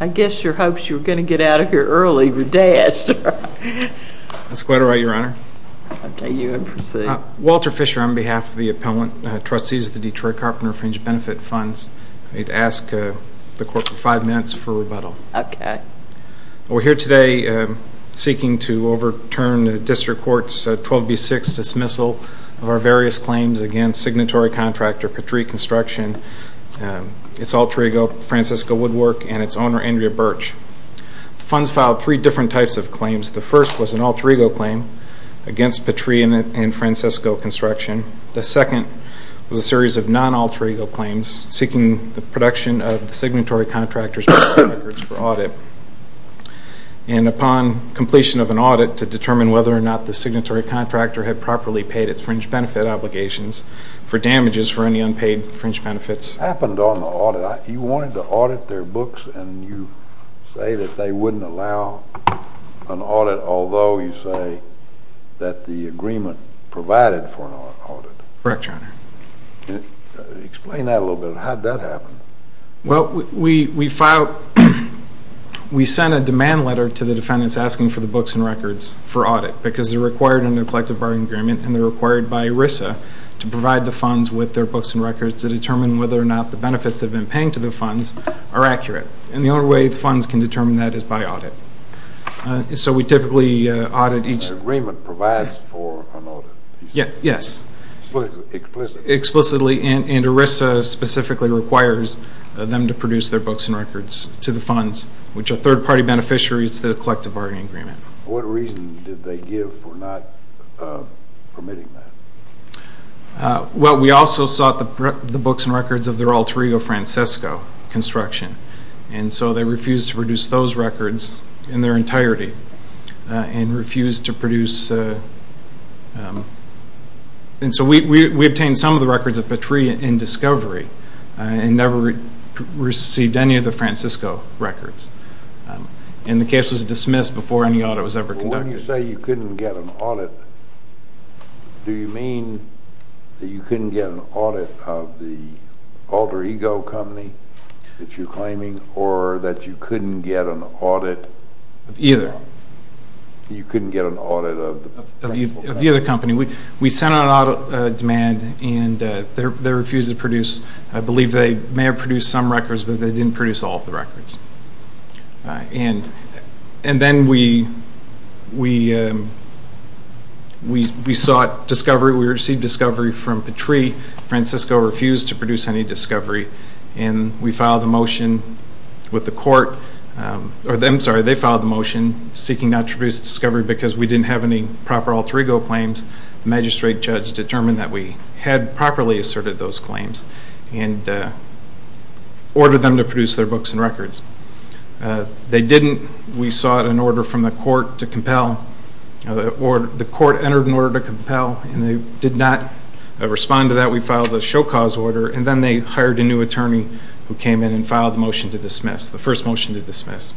I guess your hopes you were going to get out of here early were dashed. Walter Fisher on behalf of the Appellant Trustees of the Detroit Carpenter Fringe Benefit Funds. I'd ask the court for five minutes for rebuttal. Okay. We're here today seeking to overturn the District Court's 12B6 dismissal of our various claims against signatory contractor Patrie Construction, its alter ego, Francesca Woodwork, and its owner, Andrea Birch. The funds filed three different types of claims. The first was an alter ego claim against Patrie and Francesco Construction. The second was a series of non-alter ego claims seeking the production of the signatory contractor's records for audit. And upon completion of an audit to determine whether or not the signatory contractor had properly paid its fringe benefit obligations for damages for any unpaid fringe benefits. What happened on the audit? You wanted to audit their books and you say that they wouldn't allow an audit, although you say that the agreement provided for an audit. Correct, Your Honor. Explain that a little bit. How did that happen? Well, we filed, we sent a demand letter to the defendants asking for the books and records for audit because they're required under the Collective Bargaining Agreement and they're required by ERISA to provide the funds with their books and records to determine whether or not the benefits they've been paying to the funds are accurate. And the only way the funds can determine that is by audit. So we typically audit each. The agreement provides for an audit. Yes. Explicitly. Explicitly. And ERISA specifically requires them to produce their books and records to the funds, which are third-party beneficiaries to the Collective Bargaining Agreement. What reason did they give for not permitting that? Well, we also sought the books and records of their alter ego, Francisco, construction. And so they refused to produce those records in their entirety and refused to produce. And so we obtained some of the records of Petrie in discovery and never received any of the Francisco records. And the case was dismissed before any audit was ever conducted. When you say you couldn't get an audit, do you mean that you couldn't get an audit of the alter ego company that you're claiming or that you couldn't get an audit? Either. You couldn't get an audit of the other company. We sent out an audit demand, and they refused to produce. I believe they may have produced some records, but they didn't produce all of the records. And then we sought discovery. We received discovery from Petrie. Francisco refused to produce any discovery. And we filed a motion with the court. I'm sorry, they filed the motion seeking not to produce discovery because we didn't have any proper alter ego claims. The magistrate judge determined that we had properly asserted those claims and ordered them to produce their books and records. They didn't. We sought an order from the court to compel. The court entered an order to compel, and they did not respond to that. We filed a show cause order, and then they hired a new attorney who came in and filed the motion to dismiss, the first motion to dismiss.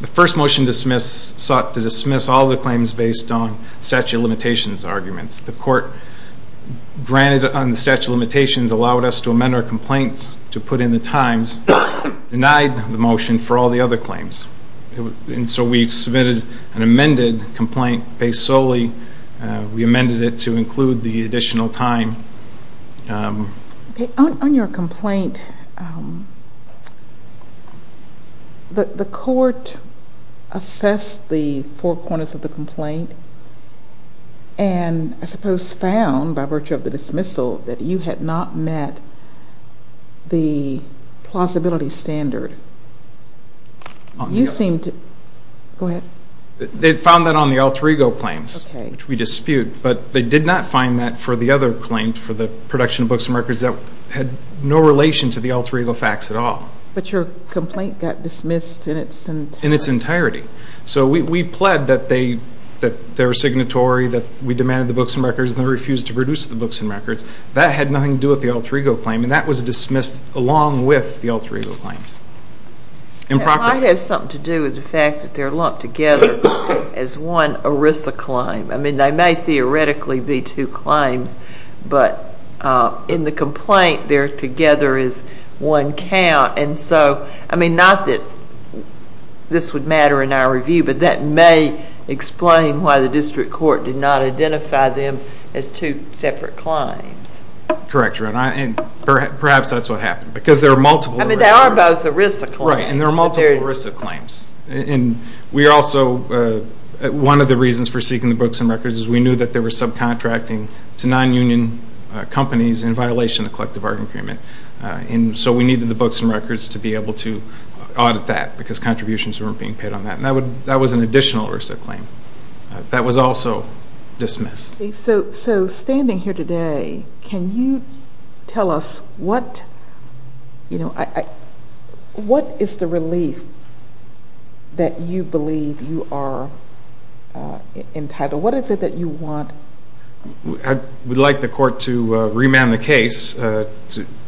The first motion to dismiss sought to dismiss all the claims based on statute of limitations arguments. The court granted on the statute of limitations allowed us to amend our complaints to put in the times, denied the motion for all the other claims. And so we submitted an amended complaint based solely. We amended it to include the additional time. On your complaint, the court assessed the four corners of the complaint and I suppose found by virtue of the dismissal that you had not met the plausibility standard. You seem to, go ahead. They found that on the alter ego claims, which we dispute, but they did not find that for the other claims for the production of books and records that had no relation to the alter ego facts at all. But your complaint got dismissed in its entirety. In its entirety. So we pled that they were signatory, that we demanded the books and records and then refused to produce the books and records. That had nothing to do with the alter ego claim and that was dismissed along with the alter ego claims. I have something to do with the fact that they are lumped together as one ERISA claim. I mean they may theoretically be two claims, but in the complaint they are together as one count. Not that this would matter in our review, but that may explain why the district court did not identify them as two separate claims. Correct. Perhaps that is what happened. I mean they are both ERISA claims. Right, and they are multiple ERISA claims. One of the reasons for seeking the books and records is we knew that they were subcontracting to non-union companies in violation of the collective bargaining agreement. So we needed the books and records to be able to audit that because contributions were not being paid on that. That was an additional ERISA claim. That was also dismissed. So standing here today, can you tell us what is the relief that you believe you are entitled? What is it that you want? I would like the court to remand the case to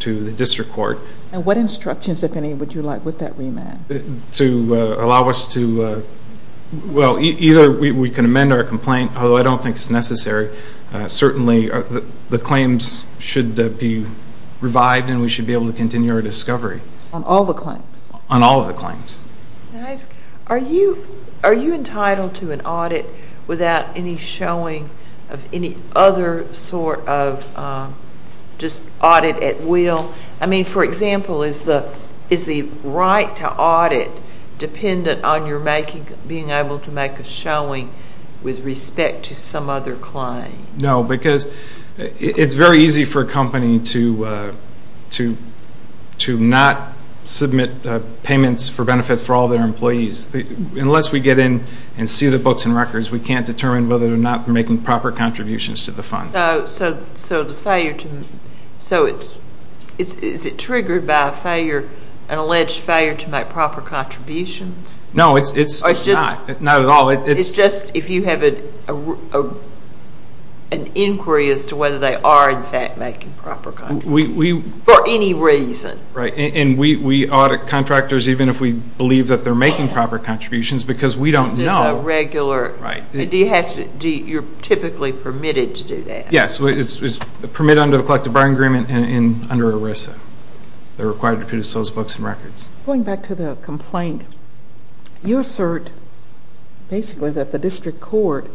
the district court. And what instructions, if any, would you like with that remand? To allow us to, well, either we can amend our complaint, although I don't think it is necessary. Certainly the claims should be revived and we should be able to continue our discovery. On all the claims? On all of the claims. Are you entitled to an audit without any showing of any other sort of just audit at will? I mean, for example, is the right to audit dependent on your being able to make a showing with respect to some other claim? No, because it is very easy for a company to not submit payments for benefits for all their employees. Unless we get in and see the books and records, we can't determine whether or not they are making proper contributions to the funds. So is it triggered by an alleged failure to make proper contributions? No, it is not at all. It is just if you have an inquiry as to whether they are, in fact, making proper contributions. For any reason. Right, and we audit contractors even if we believe that they are making proper contributions because we don't know. Right. You are typically permitted to do that. Yes, it is permitted under the collective bargaining agreement and under ERISA. They are required to produce those books and records. Going back to the complaint, you assert basically that the district court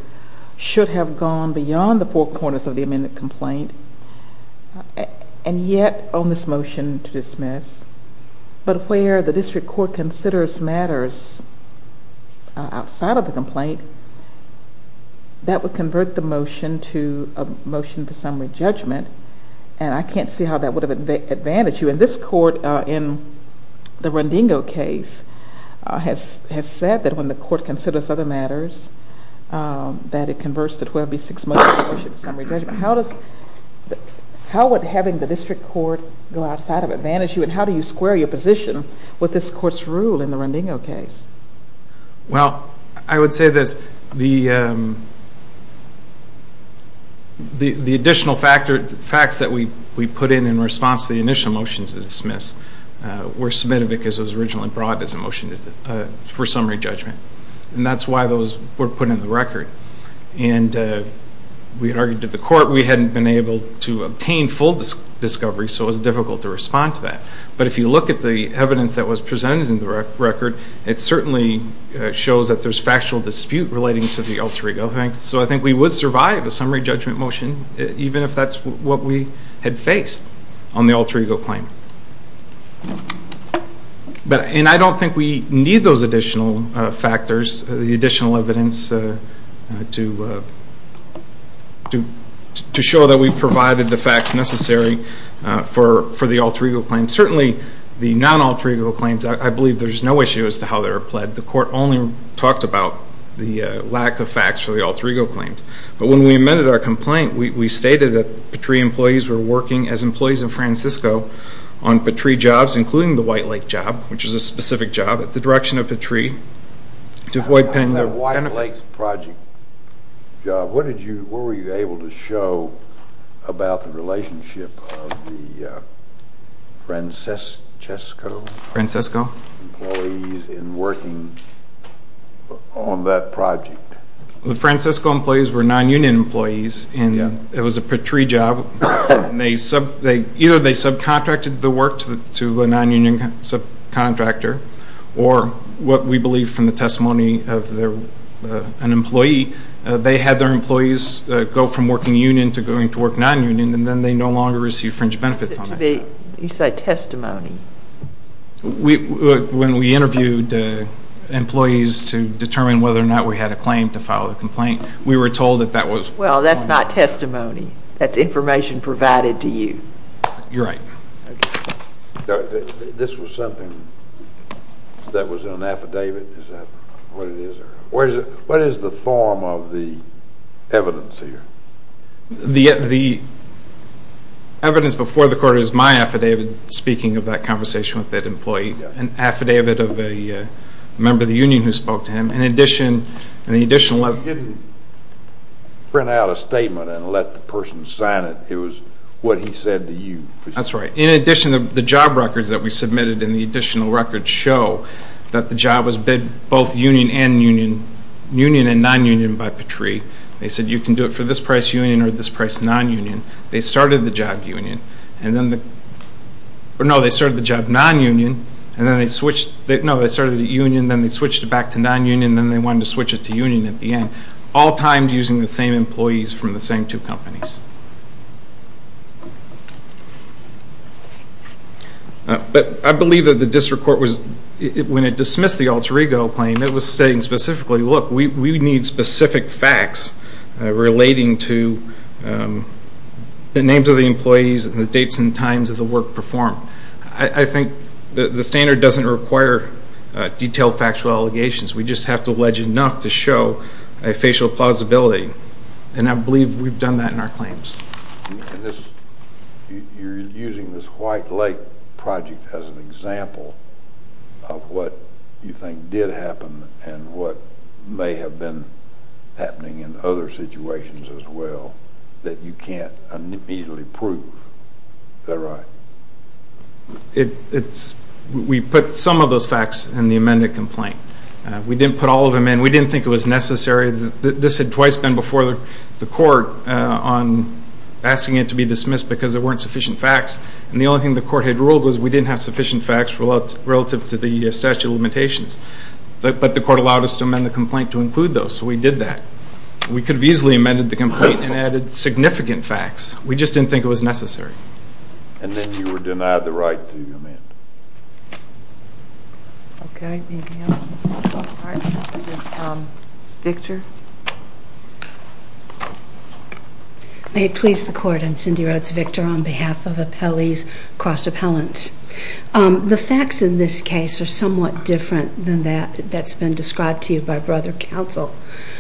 should have gone beyond the four corners of the amended complaint and yet on this motion to dismiss, but where the district court considers matters outside of the complaint, that would convert the motion to a motion for summary judgment, and I can't see how that would have advantaged you. This court in the Rendingo case has said that when the court considers other matters, that it converts the 12B6 motion to a motion for summary judgment. How would having the district court go outside of it advantage you and how do you square your position with this court's rule in the Rendingo case? Well, I would say this. The additional facts that we put in in response to the initial motion to dismiss were submitted because it was originally brought as a motion for summary judgment, and that's why those were put in the record, and we had argued to the court we hadn't been able to obtain full discovery, so it was difficult to respond to that, but if you look at the evidence that was presented in the record, it certainly shows that there's factual dispute relating to the alter ego thing, so I think we would survive a summary judgment motion, even if that's what we had faced on the alter ego claim, and I don't think we need those additional factors, the additional evidence to show that we provided the facts necessary for the alter ego claim. Certainly, the non-alter ego claims, I believe there's no issue as to how they were pled. The court only talked about the lack of facts for the alter ego claims, but when we amended our complaint, we stated that Petrie employees were working as employees of Francisco on Petrie jobs, including the White Lake job, which is a specific job at the direction of Petrie, to avoid paying their benefits. On that White Lake project job, what were you able to show about the relationship of the Francisco employees in working on that project? The Francisco employees were non-union employees, and it was a Petrie job, and either they subcontracted the work to a non-union subcontractor, or what we believe from the testimony of an employee, they had their employees go from working union to going to work non-union, and then they no longer received fringe benefits on that job. You say testimony. When we interviewed employees to determine whether or not we had a claim to file a complaint, we were told that that was— Well, that's not testimony. That's information provided to you. You're right. This was something that was in an affidavit. Is that what it is? What is the form of the evidence here? The evidence before the court is my affidavit speaking of that conversation with that employee, an affidavit of a member of the union who spoke to him. In addition— You didn't print out a statement and let the person sign it. It was what he said to you. That's right. In addition, the job records that we submitted and the additional records show that the job was bid both union and non-union by Petrie. They said you can do it for this price union or this price non-union. They started the job non-union, and then they switched it back to non-union, and then they wanted to switch it to union at the end, all times using the same employees from the same two companies. But I believe that the district court, when it dismissed the Alter Ego claim, it was saying specifically, look, we need specific facts relating to the names of the employees and the dates and times of the work performed. I think the standard doesn't require detailed factual allegations. We just have to allege enough to show a facial plausibility, and I believe we've done that in our claims. You're using this White Lake project as an example of what you think did happen and what may have been happening in other situations as well that you can't immediately prove. Is that right? We put some of those facts in the amended complaint. We didn't put all of them in. We didn't think it was necessary. This had twice been before the court on asking it to be dismissed because there weren't sufficient facts, and the only thing the court had ruled was we didn't have sufficient facts relative to the statute of limitations. But the court allowed us to amend the complaint to include those, so we did that. We could have easily amended the complaint and added significant facts. We just didn't think it was necessary. And then you were denied the right to amend. Okay. Anything else? All right. Next is Victor. May it please the Court. I'm Cindy Rhodes-Victor on behalf of Appellees Cross-Appellants. The facts in this case are somewhat different than that that's been described to you by brother counsel.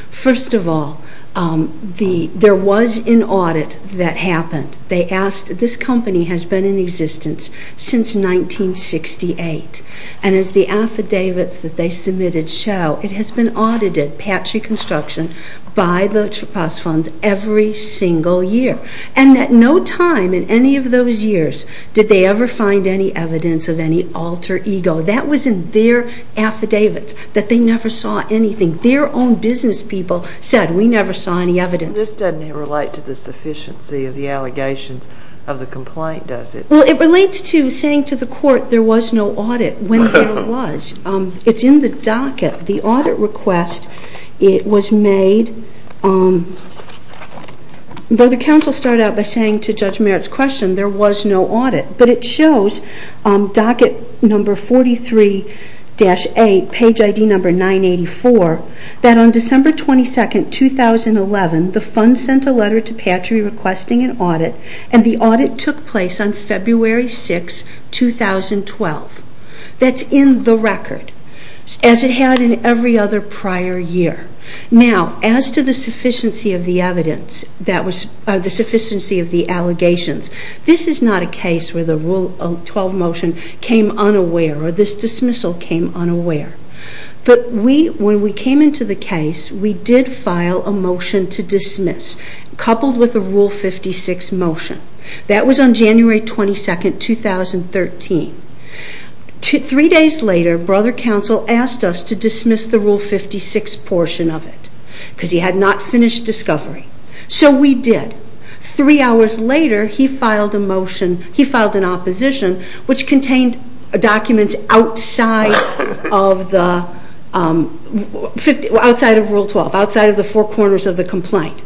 First of all, there was an audit that happened. This company has been in existence since 1968, and as the affidavits that they submitted show, it has been audited, Patrick Construction, by the trust funds every single year. And at no time in any of those years did they ever find any evidence of any alter ego. That was in their affidavits that they never saw anything. Their own business people said, we never saw any evidence. This doesn't relate to the sufficiency of the allegations of the complaint, does it? Well, it relates to saying to the court there was no audit when there was. It's in the docket. The audit request, it was made. Brother counsel started out by saying to Judge Merritt's question there was no audit, but it shows docket number 43-8, page ID number 984, that on December 22, 2011, the funds sent a letter to Patrick requesting an audit, and the audit took place on February 6, 2012. That's in the record, as it had in every other prior year. Now, as to the sufficiency of the evidence, the sufficiency of the allegations, this is not a case where the Rule 12 motion came unaware or this dismissal came unaware. But when we came into the case, we did file a motion to dismiss, coupled with a Rule 56 motion. That was on January 22, 2013. Three days later, brother counsel asked us to dismiss the Rule 56 portion of it because he had not finished discovery. So we did. Three hours later, he filed a motion. He filed an opposition, which contained documents outside of Rule 12, outside of the four corners of the complaint.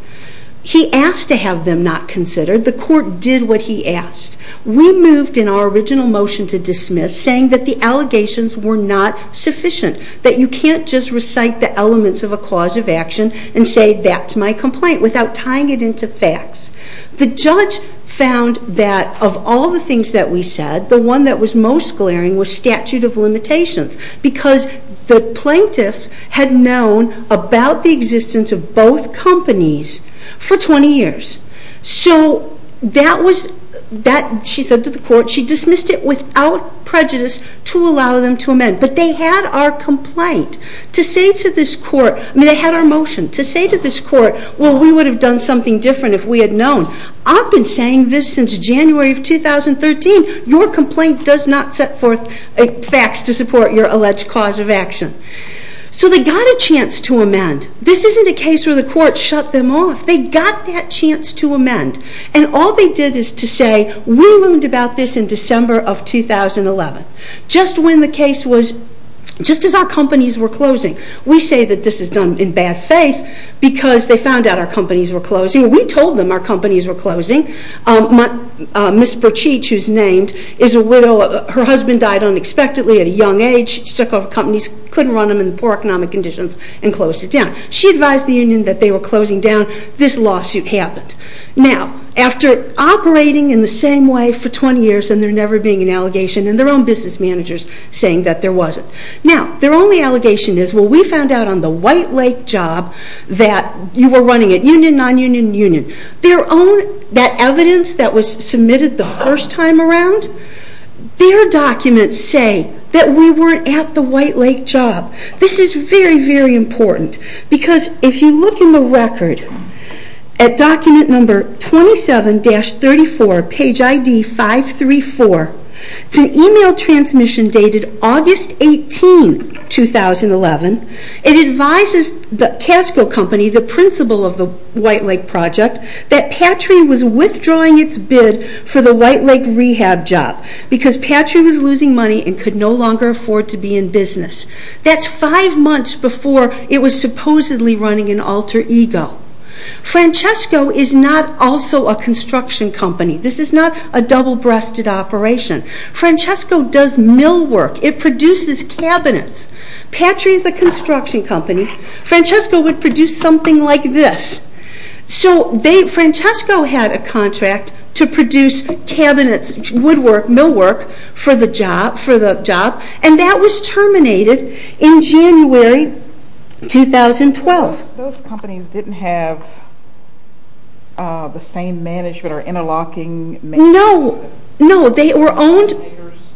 He asked to have them not considered. The court did what he asked. We moved in our original motion to dismiss, saying that the allegations were not sufficient, that you can't just recite the elements of a cause of action and say, that's my complaint, without tying it into facts. The judge found that of all the things that we said, the one that was most glaring was statute of limitations because the plaintiff had known about the existence of both companies for 20 years. So that was, she said to the court, she dismissed it without prejudice to allow them to amend. But they had our complaint. They had our motion to say to this court, well, we would have done something different if we had known. I've been saying this since January of 2013. Your complaint does not set forth facts to support your alleged cause of action. So they got a chance to amend. This isn't a case where the court shut them off. They got that chance to amend. And all they did is to say, we learned about this in December of 2011, just when the case was, just as our companies were closing. We say that this is done in bad faith because they found out our companies were closing. We told them our companies were closing. Ms. Perchich, who's named, is a widow. Her husband died unexpectedly at a young age. She took over companies, couldn't run them in poor economic conditions and closed it down. She advised the union that they were closing down. This lawsuit happened. Now, after operating in the same way for 20 years and there never being an allegation and their own business managers saying that there wasn't. Now, their only allegation is, well, we found out on the White Lake job that you were running it, union, non-union, union. Their own, that evidence that was submitted the first time around, their documents say that we weren't at the White Lake job. This is very, very important because if you look in the record, at document number 27-34, page ID 534, it's an email transmission dated August 18, 2011. It advises the Casco Company, the principal of the White Lake project, that Patry was withdrawing its bid for the White Lake rehab job because Patry was losing money and could no longer afford to be in business. That's five months before it was supposedly running in alter ego. Francesco is not also a construction company. This is not a double-breasted operation. Francesco does millwork. It produces cabinets. Patry is a construction company. Francesco would produce something like this. So Francesco had a contract to produce cabinets, woodwork, millwork, for the job, and that was terminated in January 2012. Those companies didn't have the same management or interlocking managers? No, no, they were owned.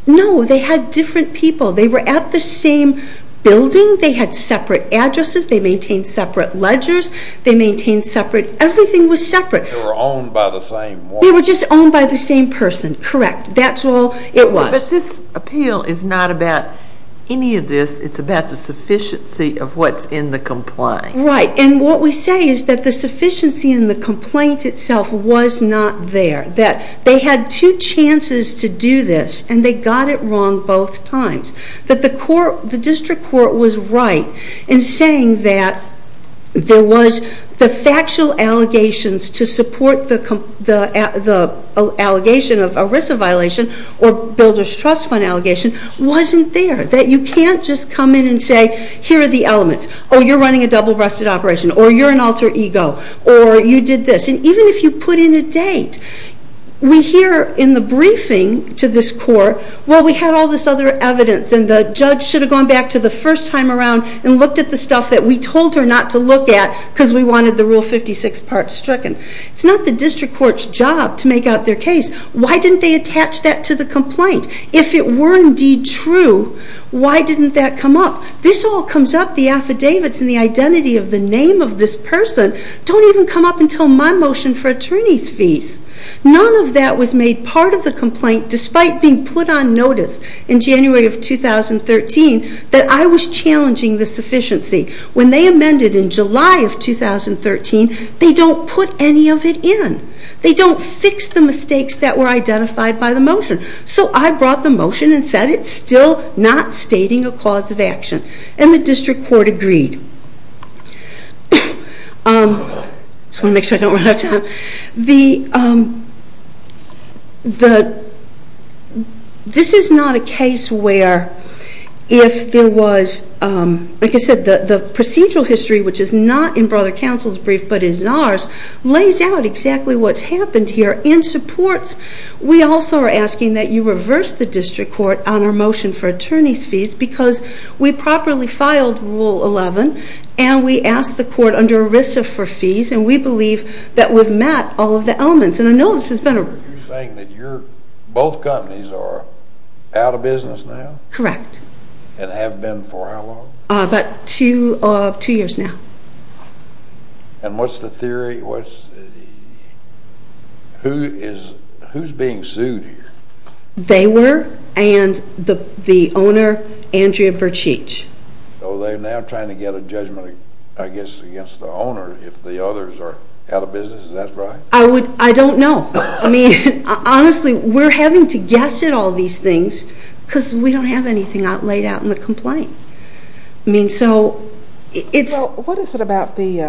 No, they had different people. They were at the same building. They had separate addresses. They maintained separate ledgers. They maintained separate. Everything was separate. They were owned by the same woman? They were just owned by the same person, correct. That's all it was. But this appeal is not about any of this. It's about the sufficiency of what's in the complaint. Right, and what we say is that the sufficiency in the complaint itself was not there, that they had two chances to do this, and they got it wrong both times, that the district court was right in saying that there was the factual allegations to support the allegation of ERISA violation or builder's trust fund allegation wasn't there, that you can't just come in and say, here are the elements. Oh, you're running a double-breasted operation, or you're an alter ego, or you did this. And even if you put in a date, we hear in the briefing to this court, well, we had all this other evidence, and the judge should have gone back to the first time around and looked at the stuff that we told her not to look at because we wanted the Rule 56 part stricken. It's not the district court's job to make out their case. Why didn't they attach that to the complaint? If it were indeed true, why didn't that come up? This all comes up, the affidavits and the identity of the name of this person, don't even come up until my motion for attorney's fees. None of that was made part of the complaint despite being put on notice in January of 2013 that I was challenging the sufficiency. When they amended in July of 2013, they don't put any of it in. They don't fix the mistakes that were identified by the motion. So I brought the motion and said it's still not stating a cause of action. And the district court agreed. I just want to make sure I don't run out of time. This is not a case where if there was, like I said, the procedural history, which is not in Brother Counsel's brief but is ours, lays out exactly what's happened here. In supports, we also are asking that you reverse the district court on our motion for attorney's fees because we properly filed Rule 11 and we asked the court under ERISA for fees and we believe that we've met all of the elements. And I know this has been a review. You're saying that both companies are out of business now? Correct. And have been for how long? About two years now. And what's the theory? Who's being sued here? They were and the owner, Andrea Bertschich. So they're now trying to get a judgment, I guess, against the owner if the others are out of business. Is that right? I don't know. I mean, honestly, we're having to guess at all these things because we don't have anything laid out in the complaint. Well, what is it about the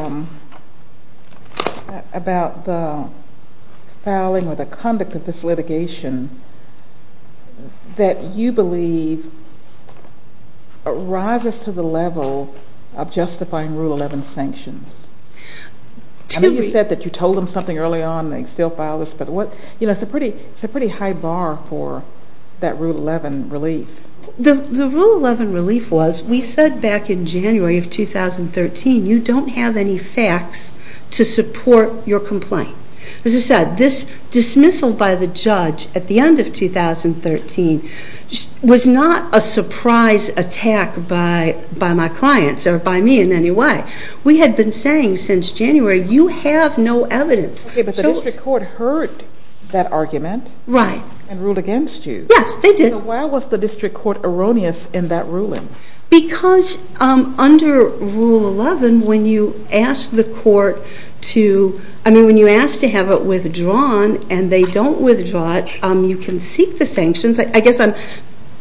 filing or the conduct of this litigation that you believe rises to the level of justifying Rule 11 sanctions? I mean, you said that you told them something early on and they still filed this, but it's a pretty high bar for that Rule 11 relief. The Rule 11 relief was we said back in January of 2013, you don't have any facts to support your complaint. As I said, this dismissal by the judge at the end of 2013 was not a surprise attack by my clients or by me in any way. We had been saying since January, you have no evidence. Okay, but the district court heard that argument. Right. And ruled against you. Yes, they did. So why was the district court erroneous in that ruling? Because under Rule 11, when you ask the court to have it withdrawn and they don't withdraw it, you can seek the sanctions. I guess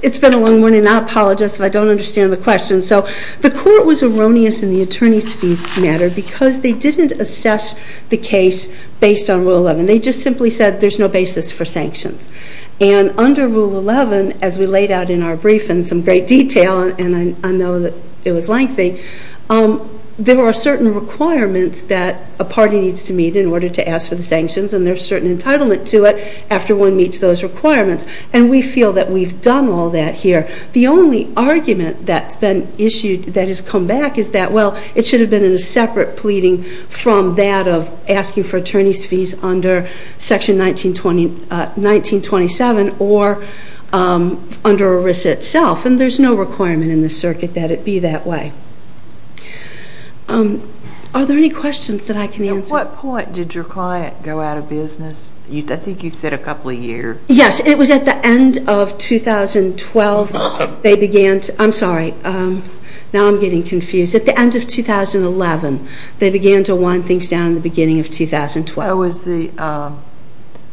it's been a long morning and I apologize if I don't understand the question. So the court was erroneous in the attorney's fees matter because they didn't assess the case based on Rule 11. They just simply said there's no basis for sanctions. And under Rule 11, as we laid out in our brief in some great detail, and I know that it was lengthy, there are certain requirements that a party needs to meet in order to ask for the sanctions and there's certain entitlement to it after one meets those requirements. And we feel that we've done all that here. The only argument that's been issued that has come back is that, well, it should have been a separate pleading from that of asking for attorney's fees under Section 1927 or under ERISA itself. And there's no requirement in the circuit that it be that way. Are there any questions that I can answer? At what point did your client go out of business? I think you said a couple of years. Yes. It was at the end of 2012. I'm sorry. Now I'm getting confused. At the end of 2011, they began to wind things down in the beginning of 2012.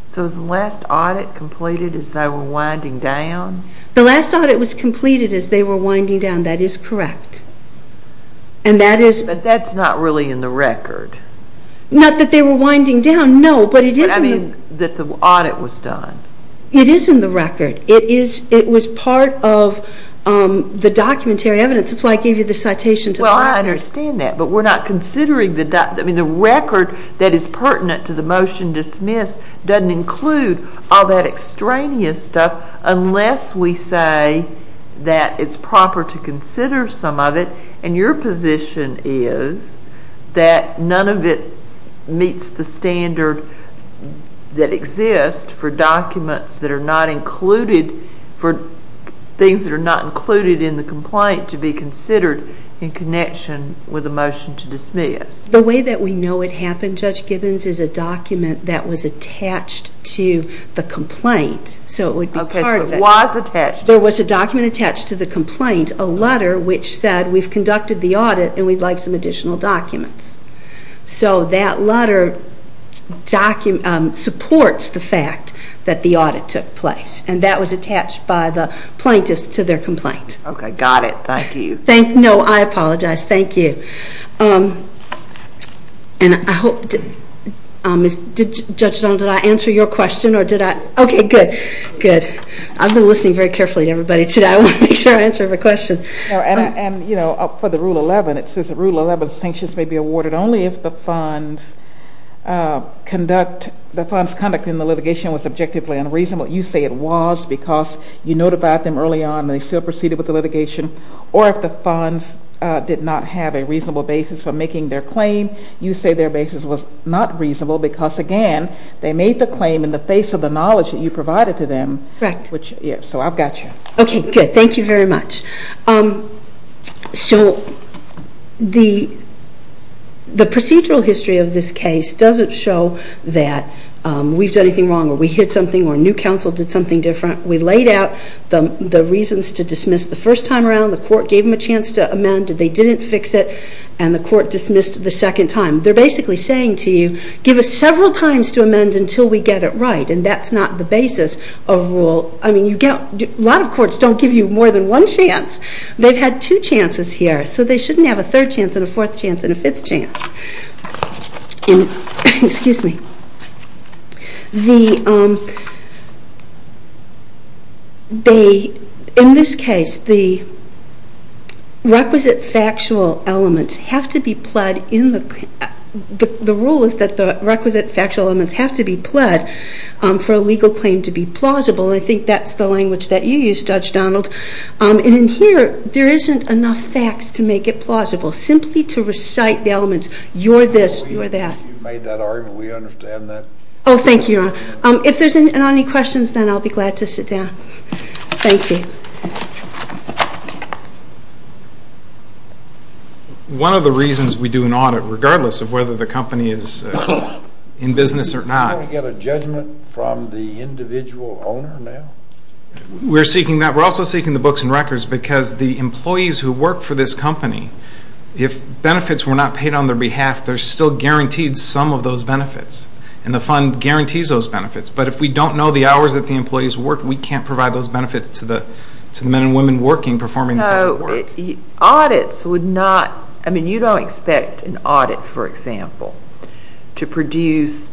So was the last audit completed as they were winding down? The last audit was completed as they were winding down. That is correct. But that's not really in the record. Not that they were winding down, no. I mean that the audit was done. It is in the record. It was part of the documentary evidence. That's why I gave you the citation. Well, I understand that. But we're not considering the document. I mean the record that is pertinent to the motion dismissed doesn't include all that extraneous stuff unless we say that it's proper to consider some of it. And your position is that none of it meets the standard that exists for documents that are not included, for things that are not included in the complaint to be considered in connection with the motion to dismiss. The way that we know it happened, Judge Gibbons, is a document that was attached to the complaint. So it would be part of it. Okay, so it was attached. There was a document attached to the complaint, a letter which said, we've conducted the audit and we'd like some additional documents. So that letter supports the fact that the audit took place. And that was attached by the plaintiffs to their complaint. Okay, got it. Thank you. No, I apologize. Thank you. Judge Stone, did I answer your question or did I? Okay, good. Good. I've been listening very carefully to everybody today. I want to make sure I answer every question. And, you know, for the Rule 11, it says that Rule 11 sanctions may be awarded only if the fund's conduct in the litigation was objectively unreasonable. You say it was because you notified them early on and they still proceeded with the litigation. Or if the funds did not have a reasonable basis for making their claim, you say their basis was not reasonable because, again, they made the claim in the face of the knowledge that you provided to them. Correct. So I've got you. Okay, good. Thank you very much. So the procedural history of this case doesn't show that we've done anything wrong or we hid something or new counsel did something different. We laid out the reasons to dismiss the first time around. The court gave them a chance to amend. They didn't fix it. And the court dismissed the second time. They're basically saying to you, give us several times to amend until we get it right. And that's not the basis of a rule. I mean, a lot of courts don't give you more than one chance. They've had two chances here. So they shouldn't have a third chance and a fourth chance and a fifth chance. Excuse me. In this case, the requisite factual elements have to be pled. The rule is that the requisite factual elements have to be pled for a legal claim to be plausible, and I think that's the language that you used, Judge Donald. And in here, there isn't enough facts to make it plausible. Simply to recite the elements, you're this, you're that. You've made that argument. We understand that. Oh, thank you, Your Honor. If there's not any questions, then I'll be glad to sit down. Thank you. One of the reasons we do an audit, regardless of whether the company is in business or not. Don't we get a judgment from the individual owner now? We're seeking that. Because the employees who work for this company, if benefits were not paid on their behalf, they're still guaranteed some of those benefits, and the fund guarantees those benefits. But if we don't know the hours that the employees worked, we can't provide those benefits to the men and women working, performing the work. Audits would not, I mean, you don't expect an audit, for example, to produce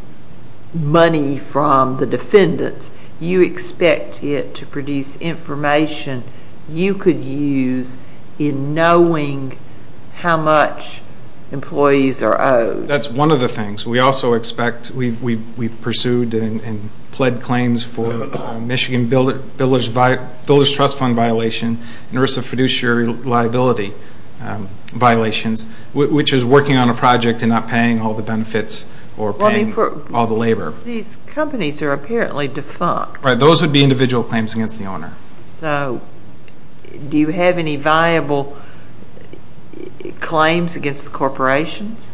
money from the defendants. You expect it to produce information. Information you could use in knowing how much employees are owed. That's one of the things. We also expect, we pursued and pled claims for Michigan Builders Trust Fund violation, and ERISA fiduciary liability violations, which is working on a project and not paying all the benefits or paying all the labor. These companies are apparently defunct. Right, those would be individual claims against the owner. So do you have any viable claims against the corporations?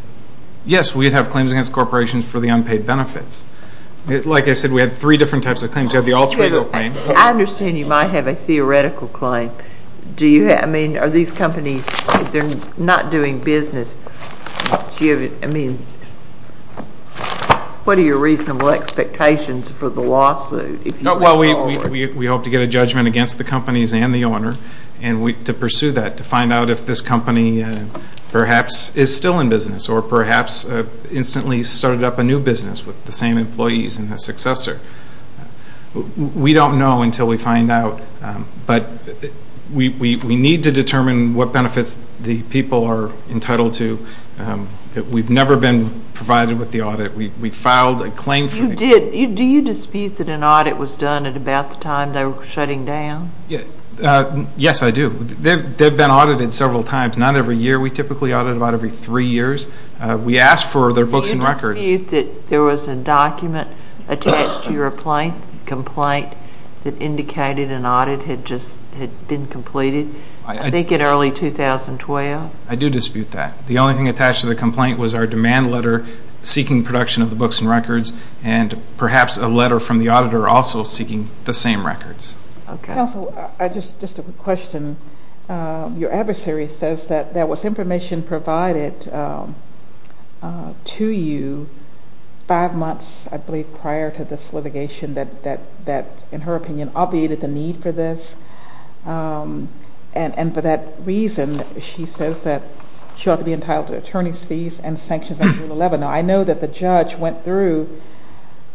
Yes, we have claims against corporations for the unpaid benefits. Like I said, we have three different types of claims. We have the all-three-year-old claim. I understand you might have a theoretical claim. Do you have, I mean, are these companies, if they're not doing business, do you have, I mean, what are your reasonable expectations for the lawsuit? Well, we hope to get a judgment against the companies and the owner to pursue that, to find out if this company perhaps is still in business or perhaps instantly started up a new business with the same employees and a successor. We don't know until we find out. But we need to determine what benefits the people are entitled to. We've never been provided with the audit. We filed a claim for the company. Do you dispute that an audit was done at about the time they were shutting down? Yes, I do. They've been audited several times, not every year. We typically audit about every three years. We ask for their books and records. Do you dispute that there was a document attached to your complaint that indicated an audit had just been completed, I think in early 2012? I do dispute that. The only thing attached to the complaint was our demand letter seeking production of the books and records and perhaps a letter from the auditor also seeking the same records. Counsel, just a quick question. Your adversary says that there was information provided to you five months, I believe, prior to this litigation that, in her opinion, obviated the need for this. And for that reason, she says that she ought to be entitled to attorney's fees and sanctions under Rule 11. Now, I know that the judge went through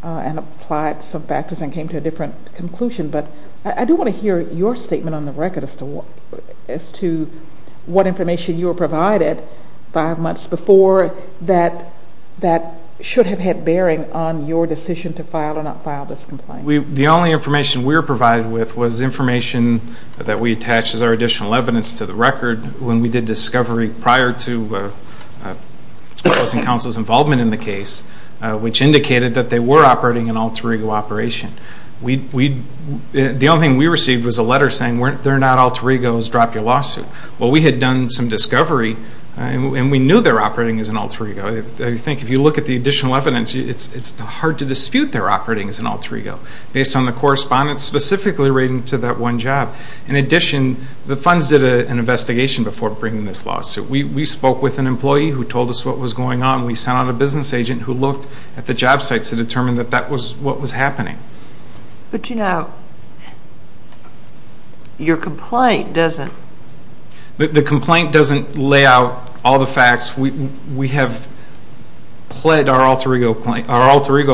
and applied some factors and came to a different conclusion, but I do want to hear your statement on the record as to what information you were provided five months before that should have had bearing on your decision to file or not file this complaint. The only information we were provided with was information that we attached as our additional evidence to the record when we did discovery prior to the Counsel's involvement in the case, which indicated that they were operating an alter ego operation. The only thing we received was a letter saying they're not alter egos, drop your lawsuit. Well, we had done some discovery, and we knew they were operating as an alter ego. I think if you look at the additional evidence, it's hard to dispute their operating as an alter ego based on the correspondence specifically relating to that one job. In addition, the funds did an investigation before bringing this lawsuit. We spoke with an employee who told us what was going on. We sent out a business agent who looked at the job sites to determine that that was what was happening. But, you know, your complaint doesn't. The complaint doesn't lay out all the facts. We have pled our alter ego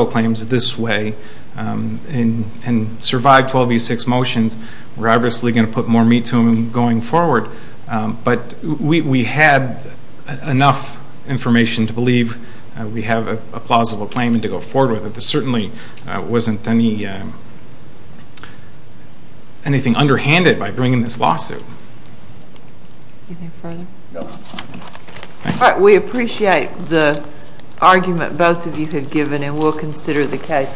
claims this way and survived 12 v. 6 motions. We're obviously going to put more meat to them going forward. But we had enough information to believe we have a plausible claim and to go forward with it. There certainly wasn't anything underhanded by bringing this lawsuit. Anything further? No. All right. We appreciate the argument both of you have given, and we'll consider the case carefully.